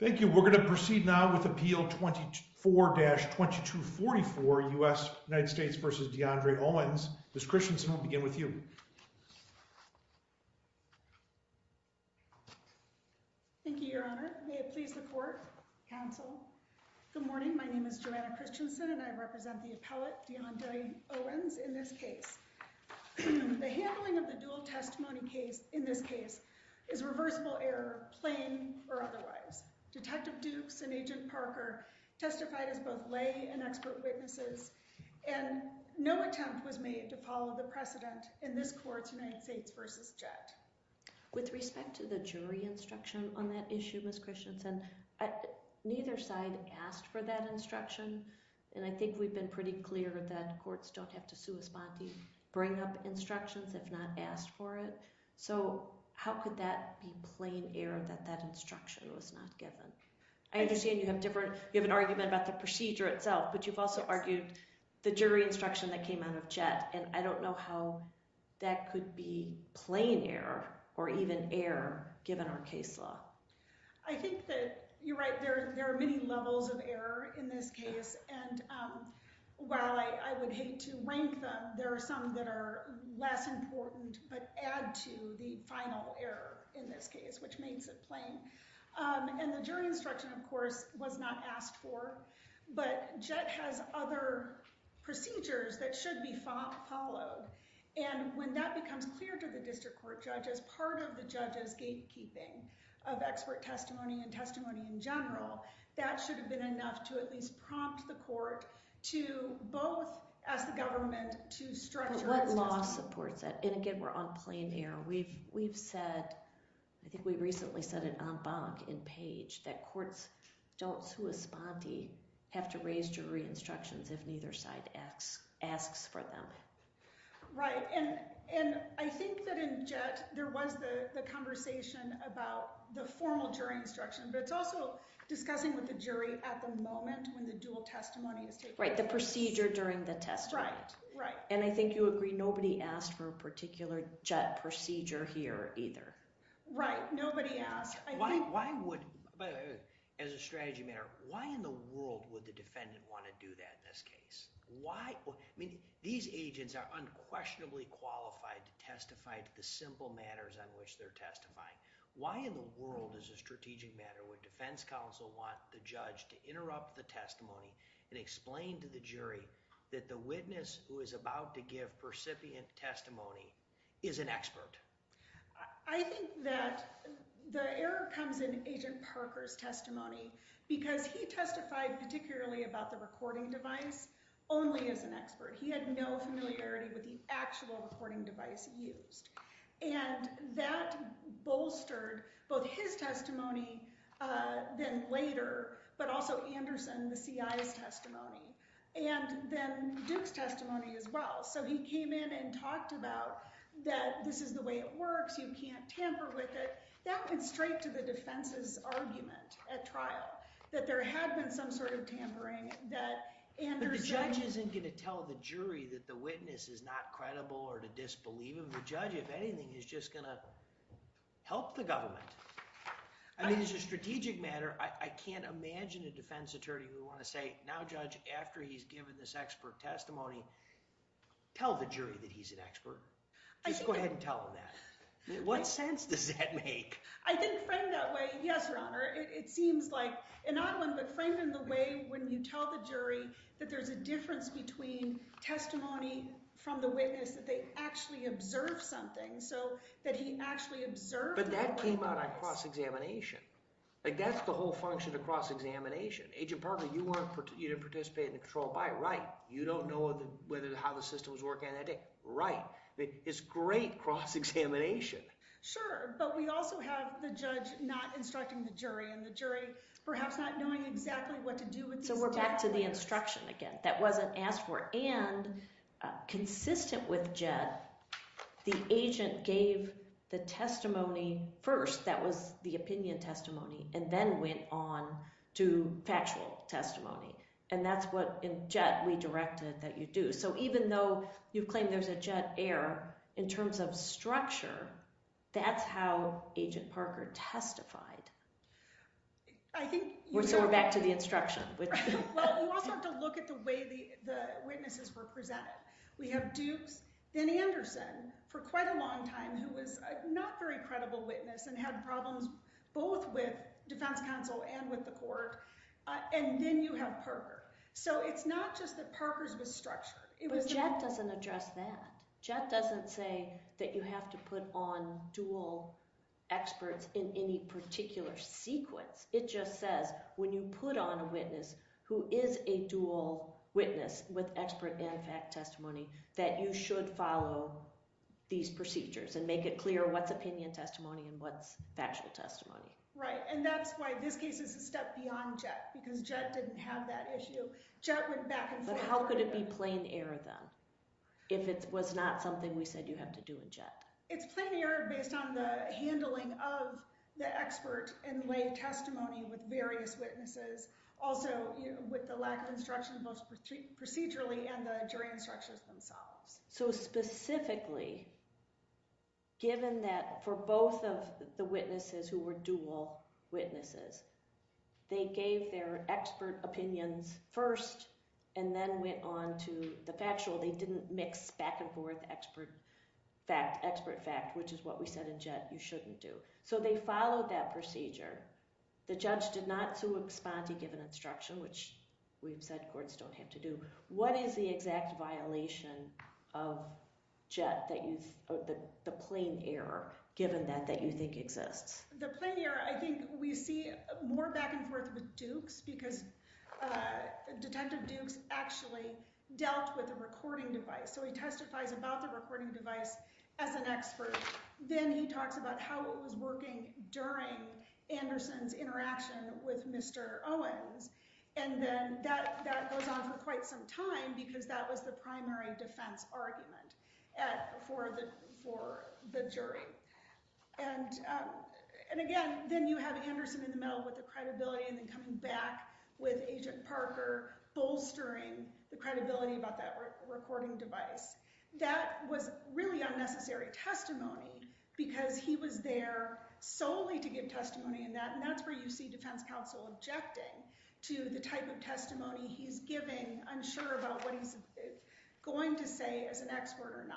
Thank you, we're going to proceed now with Appeal 24-2244, U.S. v. De'Andre Owens. Ms. Christensen, we'll begin with you. Thank you, Your Honor. May it please the Court, Counsel. Good morning. My name is Joanna Christensen and I represent the appellate, De'Andre Owens, in this case. The handling of the dual testimony case in this case is reversible error, plain or otherwise. Detective Dukes and Agent Parker testified as both lay and expert witnesses, and no attempt was made to follow the precedent in this Court's United States v. Jett. With respect to the jury instruction on that issue, Ms. Christensen, neither side asked for that instruction, and I think we've been pretty clear that courts don't have to sui sponte, bring up instructions if not asked for it. So how could that be plain error that that instruction was not given? I understand you have an argument about the procedure itself, but you've also argued the jury instruction that came out of Jett, and I don't know how that could be plain error or even error given our case law. I think that you're right, there are many levels of error in this case, and while I would hate to rank them, there are some that are less important but add to the final error in this case, which makes it plain. And the jury instruction, of course, was not asked for, but Jett has other procedures that should be followed. And when that becomes clear to the district court judge as part of the judge's gatekeeping of expert testimony and testimony in general, that should have been enough to at least prompt the court to both, as the government, to structure... But what law supports that? And again, we're on plain error. We've said, I think we recently said it en banc in Page, that courts don't sui sponte, have to raise jury instructions if neither side asks for them. Right, and I think that in Jett, there was the conversation about the formal jury instruction, but it's also discussing with the jury at the moment when the dual testimony is taking place. Right, the procedure during the testimony. Right, right. And I think you agree nobody asked for a particular Jett procedure here either. Right, nobody asked. Why would, as a strategy matter, why in the world would the defendant want to do that in this case? Why? I mean, these agents are unquestionably qualified to testify to the simple matters on which they're testifying. Why in the world, as a strategic matter, would defense counsel want the judge to interrupt the testimony and explain to the jury that the witness who is about to give percipient testimony is an expert? I think that the error comes in Agent Parker's testimony because he testified particularly about the recording device only as an expert. He had no familiarity with the actual recording device used. And that bolstered both his testimony then later, but also Anderson, the CI's testimony, and then Duke's testimony as well. So he came in and talked about that this is the way it works. You can't tamper with it. That went straight to the defense's argument at trial, that there had been some sort of tampering that Anderson— But the judge isn't going to tell the jury that the witness is not credible or to disbelieve him. The judge, if anything, is just going to help the government. I mean, as a strategic matter, I can't imagine a defense attorney who would want to say, now, judge, after he's given this expert testimony, tell the jury that he's an expert. Just go ahead and tell them that. What sense does that make? I think framed that way, yes, Your Honor. It seems like—and not framed in the way when you tell the jury that there's a difference between testimony from the witness that they actually observed something, so that he actually observed the recording device. But that came out on cross-examination. Like, that's the whole function of cross-examination. Agent Parker, you weren't—you didn't participate in the control by. Right. You don't know whether—how the system was working on that day. Right. It's great cross-examination. Sure, but we also have the judge not instructing the jury, and the jury perhaps not knowing exactly what to do with these documents. So we're back to the instruction again. That wasn't asked for. And consistent with JET, the agent gave the testimony first—that was the opinion testimony—and then went on to factual testimony, and that's what in JET we directed that you do. So even though you've claimed there's a JET error, in terms of structure, that's how Agent Parker testified. I think you— So we're back to the instruction, which— Well, we also have to look at the way the witnesses were presented. We have Dukes, then Anderson, for quite a long time, who was a not-very-credible witness and had problems both with defense counsel and with the court, and then you have Parker. So it's not just that Parker's was structured. But JET doesn't address that. JET doesn't say that you have to put on dual experts in any particular sequence. It just says, when you put on a witness who is a dual witness with expert and fact testimony, that you should follow these procedures and make it clear what's opinion testimony and what's factual testimony. Right, and that's why this case is a step beyond JET, because JET didn't have that issue. JET went back and forth— But how could it be plain error, then, if it was not something we said you have to do in JET? It's plain error based on the handling of the expert in lay testimony with various witnesses, also with the lack of instruction, both procedurally and the jury instructions themselves. So specifically, given that for both of the witnesses who were dual witnesses, they gave their expert opinions first and then went on to the factual. They didn't mix back and forth expert fact, which is what we said in JET you shouldn't do. So they followed that procedure. The judge did not respond to given instruction, which we've said courts don't have to do. What is the exact violation of JET that you—the plain error, given that, that you think exists? The plain error, I think we see more back and forth with Dukes, because Detective Dukes actually dealt with a recording device. So he testifies about the recording device as an expert. Then he talks about how it was working during Anderson's interaction with Mr. Owens. And then that goes on for quite some time, because that was the primary defense argument for the jury. And again, then you have Anderson in the middle with the credibility and then coming back with Agent Parker bolstering the credibility about that recording device. That was really unnecessary testimony, because he was there solely to give testimony. And that's where you see defense counsel objecting to the type of testimony he's giving, unsure about what he's going to say as an expert or not.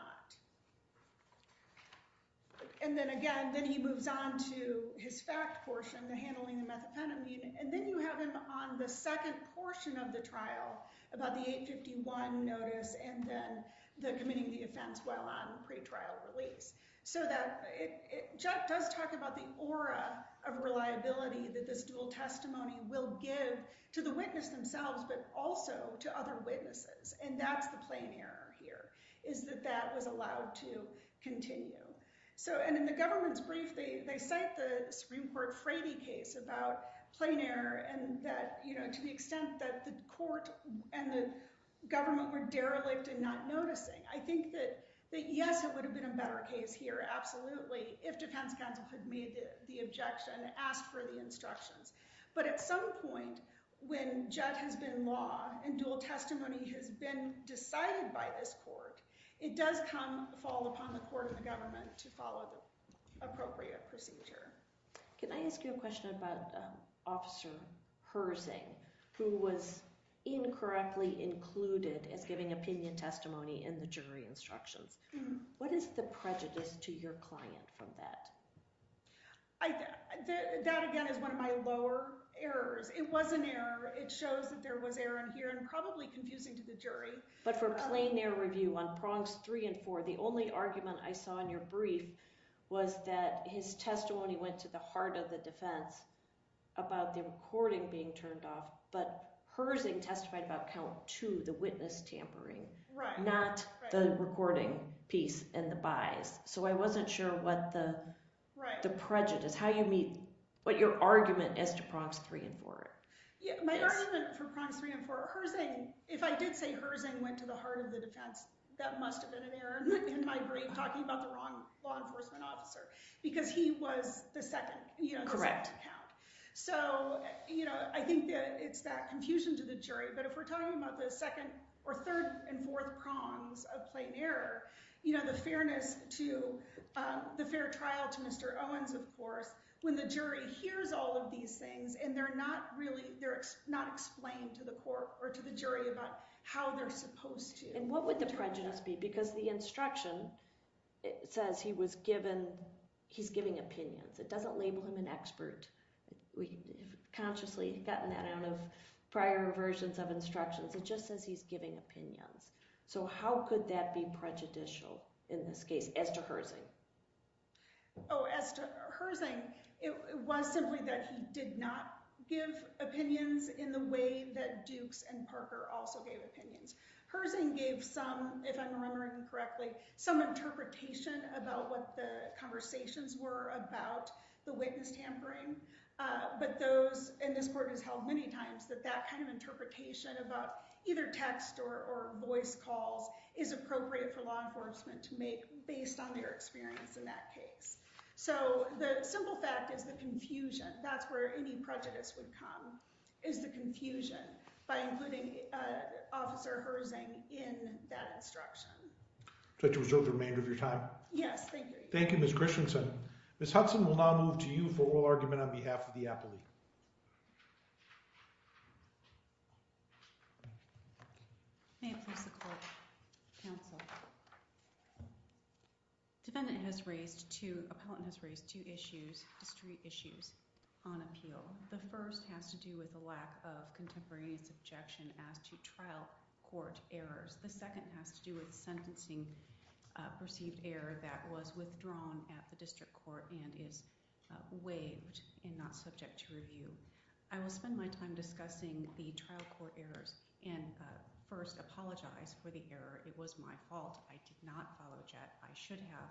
And then again, then he moves on to his fact portion, the handling of methamphetamine. And then you have him on the second portion of the trial about the 851 notice and then the committing the offense while on pretrial release. So that does talk about the aura of reliability that this dual testimony will give to the witness themselves, but also to other witnesses. And that's the plain error here, is that that was allowed to continue. So and in the government's brief, they cite the Supreme Court Frady case about plain error and that, you know, to the extent that the court and the government were derelict and not noticing. I think that yes, it would have been a better case here, absolutely, if defense counsel had made the objection, asked for the instructions. But at some point when JET has been law and dual testimony has been decided by this court, it does come fall upon the court and the government to follow the appropriate procedure. Can I ask you a question about Officer Herzing who was incorrectly included as giving opinion testimony in the jury instructions? What is the prejudice to your client from that? That again is one of my lower errors. It was an error. It shows that there was error in here and probably confusing to the jury. But for plain error review on prongs three and four, the only argument I saw in your brief was that his testimony went to the heart of the defense about the recording being turned off. But Herzing testified about count two, the witness tampering, not the recording piece and the buys. So I wasn't sure what the prejudice, how you meet, what your argument is to prongs three and four. My argument for prongs three and four, Herzing, if I did say Herzing went to the heart of the defense, that must have been an error in my brief talking about the wrong law enforcement officer because he was the second. Correct. So, you know, I think it's that confusion to the jury. But if we're talking about the second or third and fourth prongs of plain error, you know, the fairness to the fair trial to Mr. Owens, of course, when the jury hears all of these things and they're not really they're not explained to the court or to the jury about how they're supposed to. And what would the prejudice be? Because the instruction says he was given. He's giving opinions. It doesn't label him an expert. We have consciously gotten that out of prior versions of instructions. It just says he's giving opinions. So how could that be prejudicial in this case as to Herzing? Oh, as to Herzing, it was simply that he did not give opinions in the way that Dukes and Parker also gave opinions. Herzing gave some, if I'm remembering correctly, some interpretation about what the conversations were about the witness tampering. But those in this court has held many times that that kind of interpretation about either text or voice calls is appropriate for law enforcement to make based on their experience in that case. So the simple fact is the confusion. That's where any prejudice would come is the confusion by including Officer Herzing in that instruction. So to reserve the remainder of your time? Yes, thank you. Thank you, Ms. Christensen. Ms. Hudson will now move to you for oral argument on behalf of the appellee. May it please the court. Defendant has raised two, appellant has raised two issues, two street issues on appeal. The first has to do with the lack of contemporaneous objection as to trial court errors. The second has to do with sentencing perceived error that was withdrawn at the district court and is waived and not subject to review. I will spend my time discussing the trial court errors and first apologize for the error. It was my fault. I did not follow JET. I should have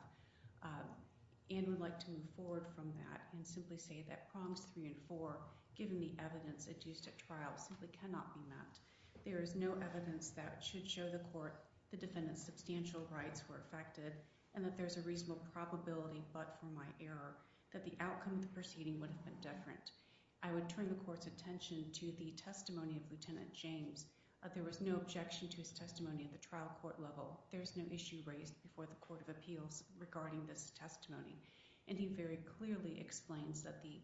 and would like to move forward from that and simply say that prongs three and four, given the evidence adduced at trial, simply cannot be met. There is no evidence that should show the court the defendant's substantial rights were affected and that there's a reasonable probability but for my error that the outcome of the proceeding would have been different. I would turn the court's attention to the testimony of Lieutenant James. There was no objection to his testimony at the trial court level. There's no issue raised before the Court of Appeals regarding this testimony. And he very clearly explains that the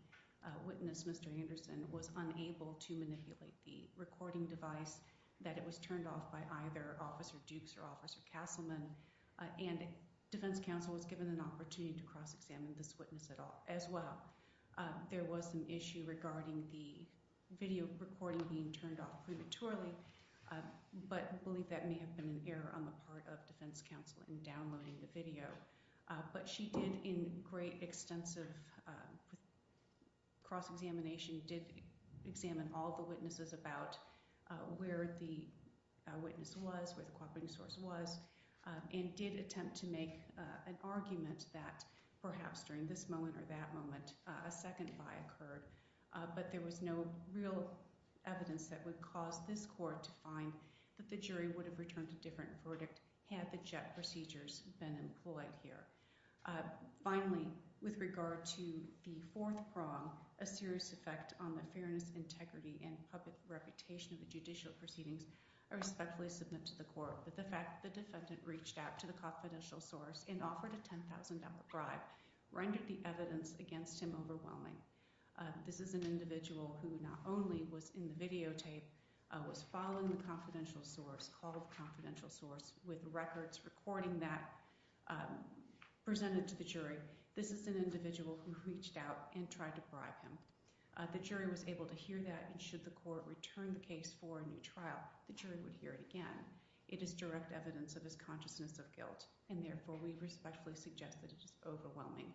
witness, Mr. Anderson, was unable to manipulate the recording device, that it was turned off by either Officer Dukes or Officer Castleman. And defense counsel was given an opportunity to cross-examine this witness as well. There was an issue regarding the video recording being turned off prematurely, but I believe that may have been an error on the part of defense counsel in downloading the video. But she did, in great extensive cross-examination, did examine all the witnesses about where the witness was, where the recording source was, and did attempt to make an argument that perhaps during this moment or that moment, a second lie occurred. But there was no real evidence that would cause this court to find that the jury would have returned a different verdict had the JET procedures been employed here. Finally, with regard to the fourth prong, a serious effect on the fairness, integrity, and public reputation of the judicial proceedings, I respectfully submit to the court that the fact that the defendant reached out to the confidential source and offered a $10,000 bribe rendered the evidence against him overwhelming. This is an individual who not only was in the videotape, was following the confidential source, called the confidential source, with records recording that presented to the jury. This is an individual who reached out and tried to bribe him. The jury was able to hear that, and should the court return the case for a new trial, the jury would hear it again. It is direct evidence of his consciousness of guilt, and therefore we respectfully suggest that it is overwhelming.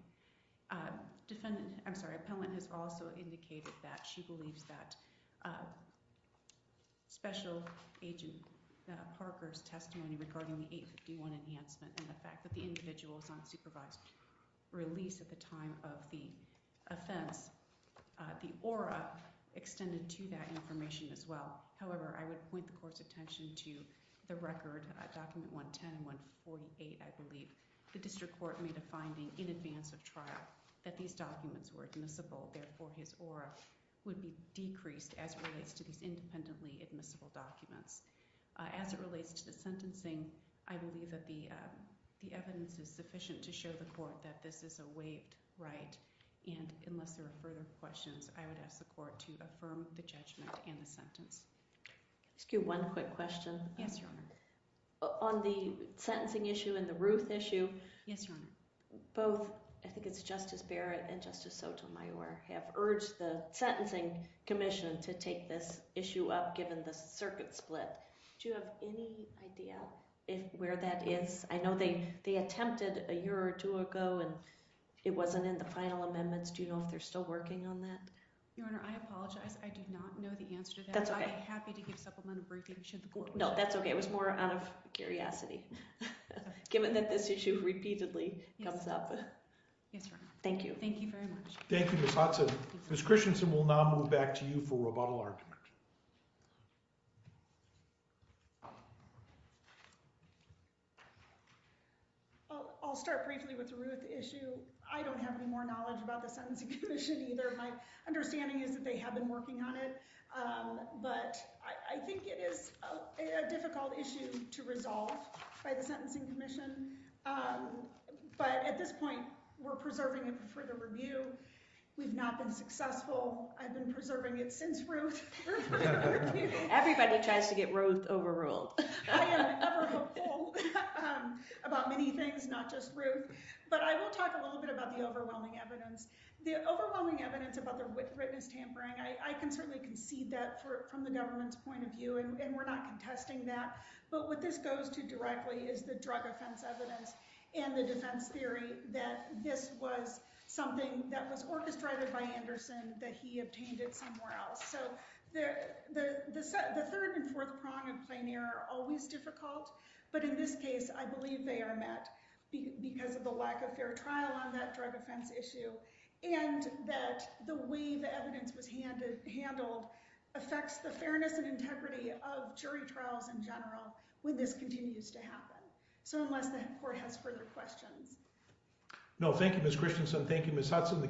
Appellant has also indicated that she believes that Special Agent Parker's testimony regarding the 851 enhancement and the fact that the individual was on supervised release at the time of the offense, the aura extended to that information as well. However, I would point the court's attention to the record, Document 110 and 148, I believe. The district court made a finding in advance of trial that these documents were admissible, therefore his aura would be decreased as it relates to these independently admissible documents. As it relates to the sentencing, I believe that the evidence is sufficient to show the court that this is a waived right, and unless there are further questions, I would ask the court to affirm the judgment and the sentence. Excuse me, one quick question. Yes, Your Honor. On the sentencing issue and the Ruth issue, both, I think it's Justice Barrett and Justice Sotomayor, have urged the Sentencing Commission to take this issue up given the circuit split. Do you have any idea where that is? I know they attempted a year or two ago, and it wasn't in the final amendments. Do you know if they're still working on that? Your Honor, I apologize. I do not know the answer to that. That's okay. I would be happy to give supplementary briefing, should the court— No, that's okay. It was more out of curiosity, given that this issue repeatedly comes up. Yes, Your Honor. Thank you. Thank you very much. Thank you, Ms. Hudson. Ms. Christensen will now move back to you for rebuttal argument. I'll start briefly with the Ruth issue. I don't have any more knowledge about the Sentencing Commission either. My understanding is that they have been working on it. But I think it is a difficult issue to resolve by the Sentencing Commission. But at this point, we're preserving it for the review. We've not been successful. I've been preserving it since Ruth. Everybody tries to get Ruth overruled. I am ever hopeful about many things, not just Ruth. But I will talk a little bit about the overwhelming evidence. The overwhelming evidence about the witness tampering— I can certainly concede that from the government's point of view, and we're not contesting that. But what this goes to directly is the drug offense evidence and the defense theory that this was something that was orchestrated by Anderson, that he obtained it somewhere else. So the third and fourth prong of plain error are always difficult. But in this case, I believe they are met because of the lack of fair trial on that drug offense issue and that the way the evidence was handled affects the fairness and integrity of jury trials in general when this continues to happen. So unless the court has further questions. No, thank you, Ms. Christensen. Thank you, Ms. Hudson.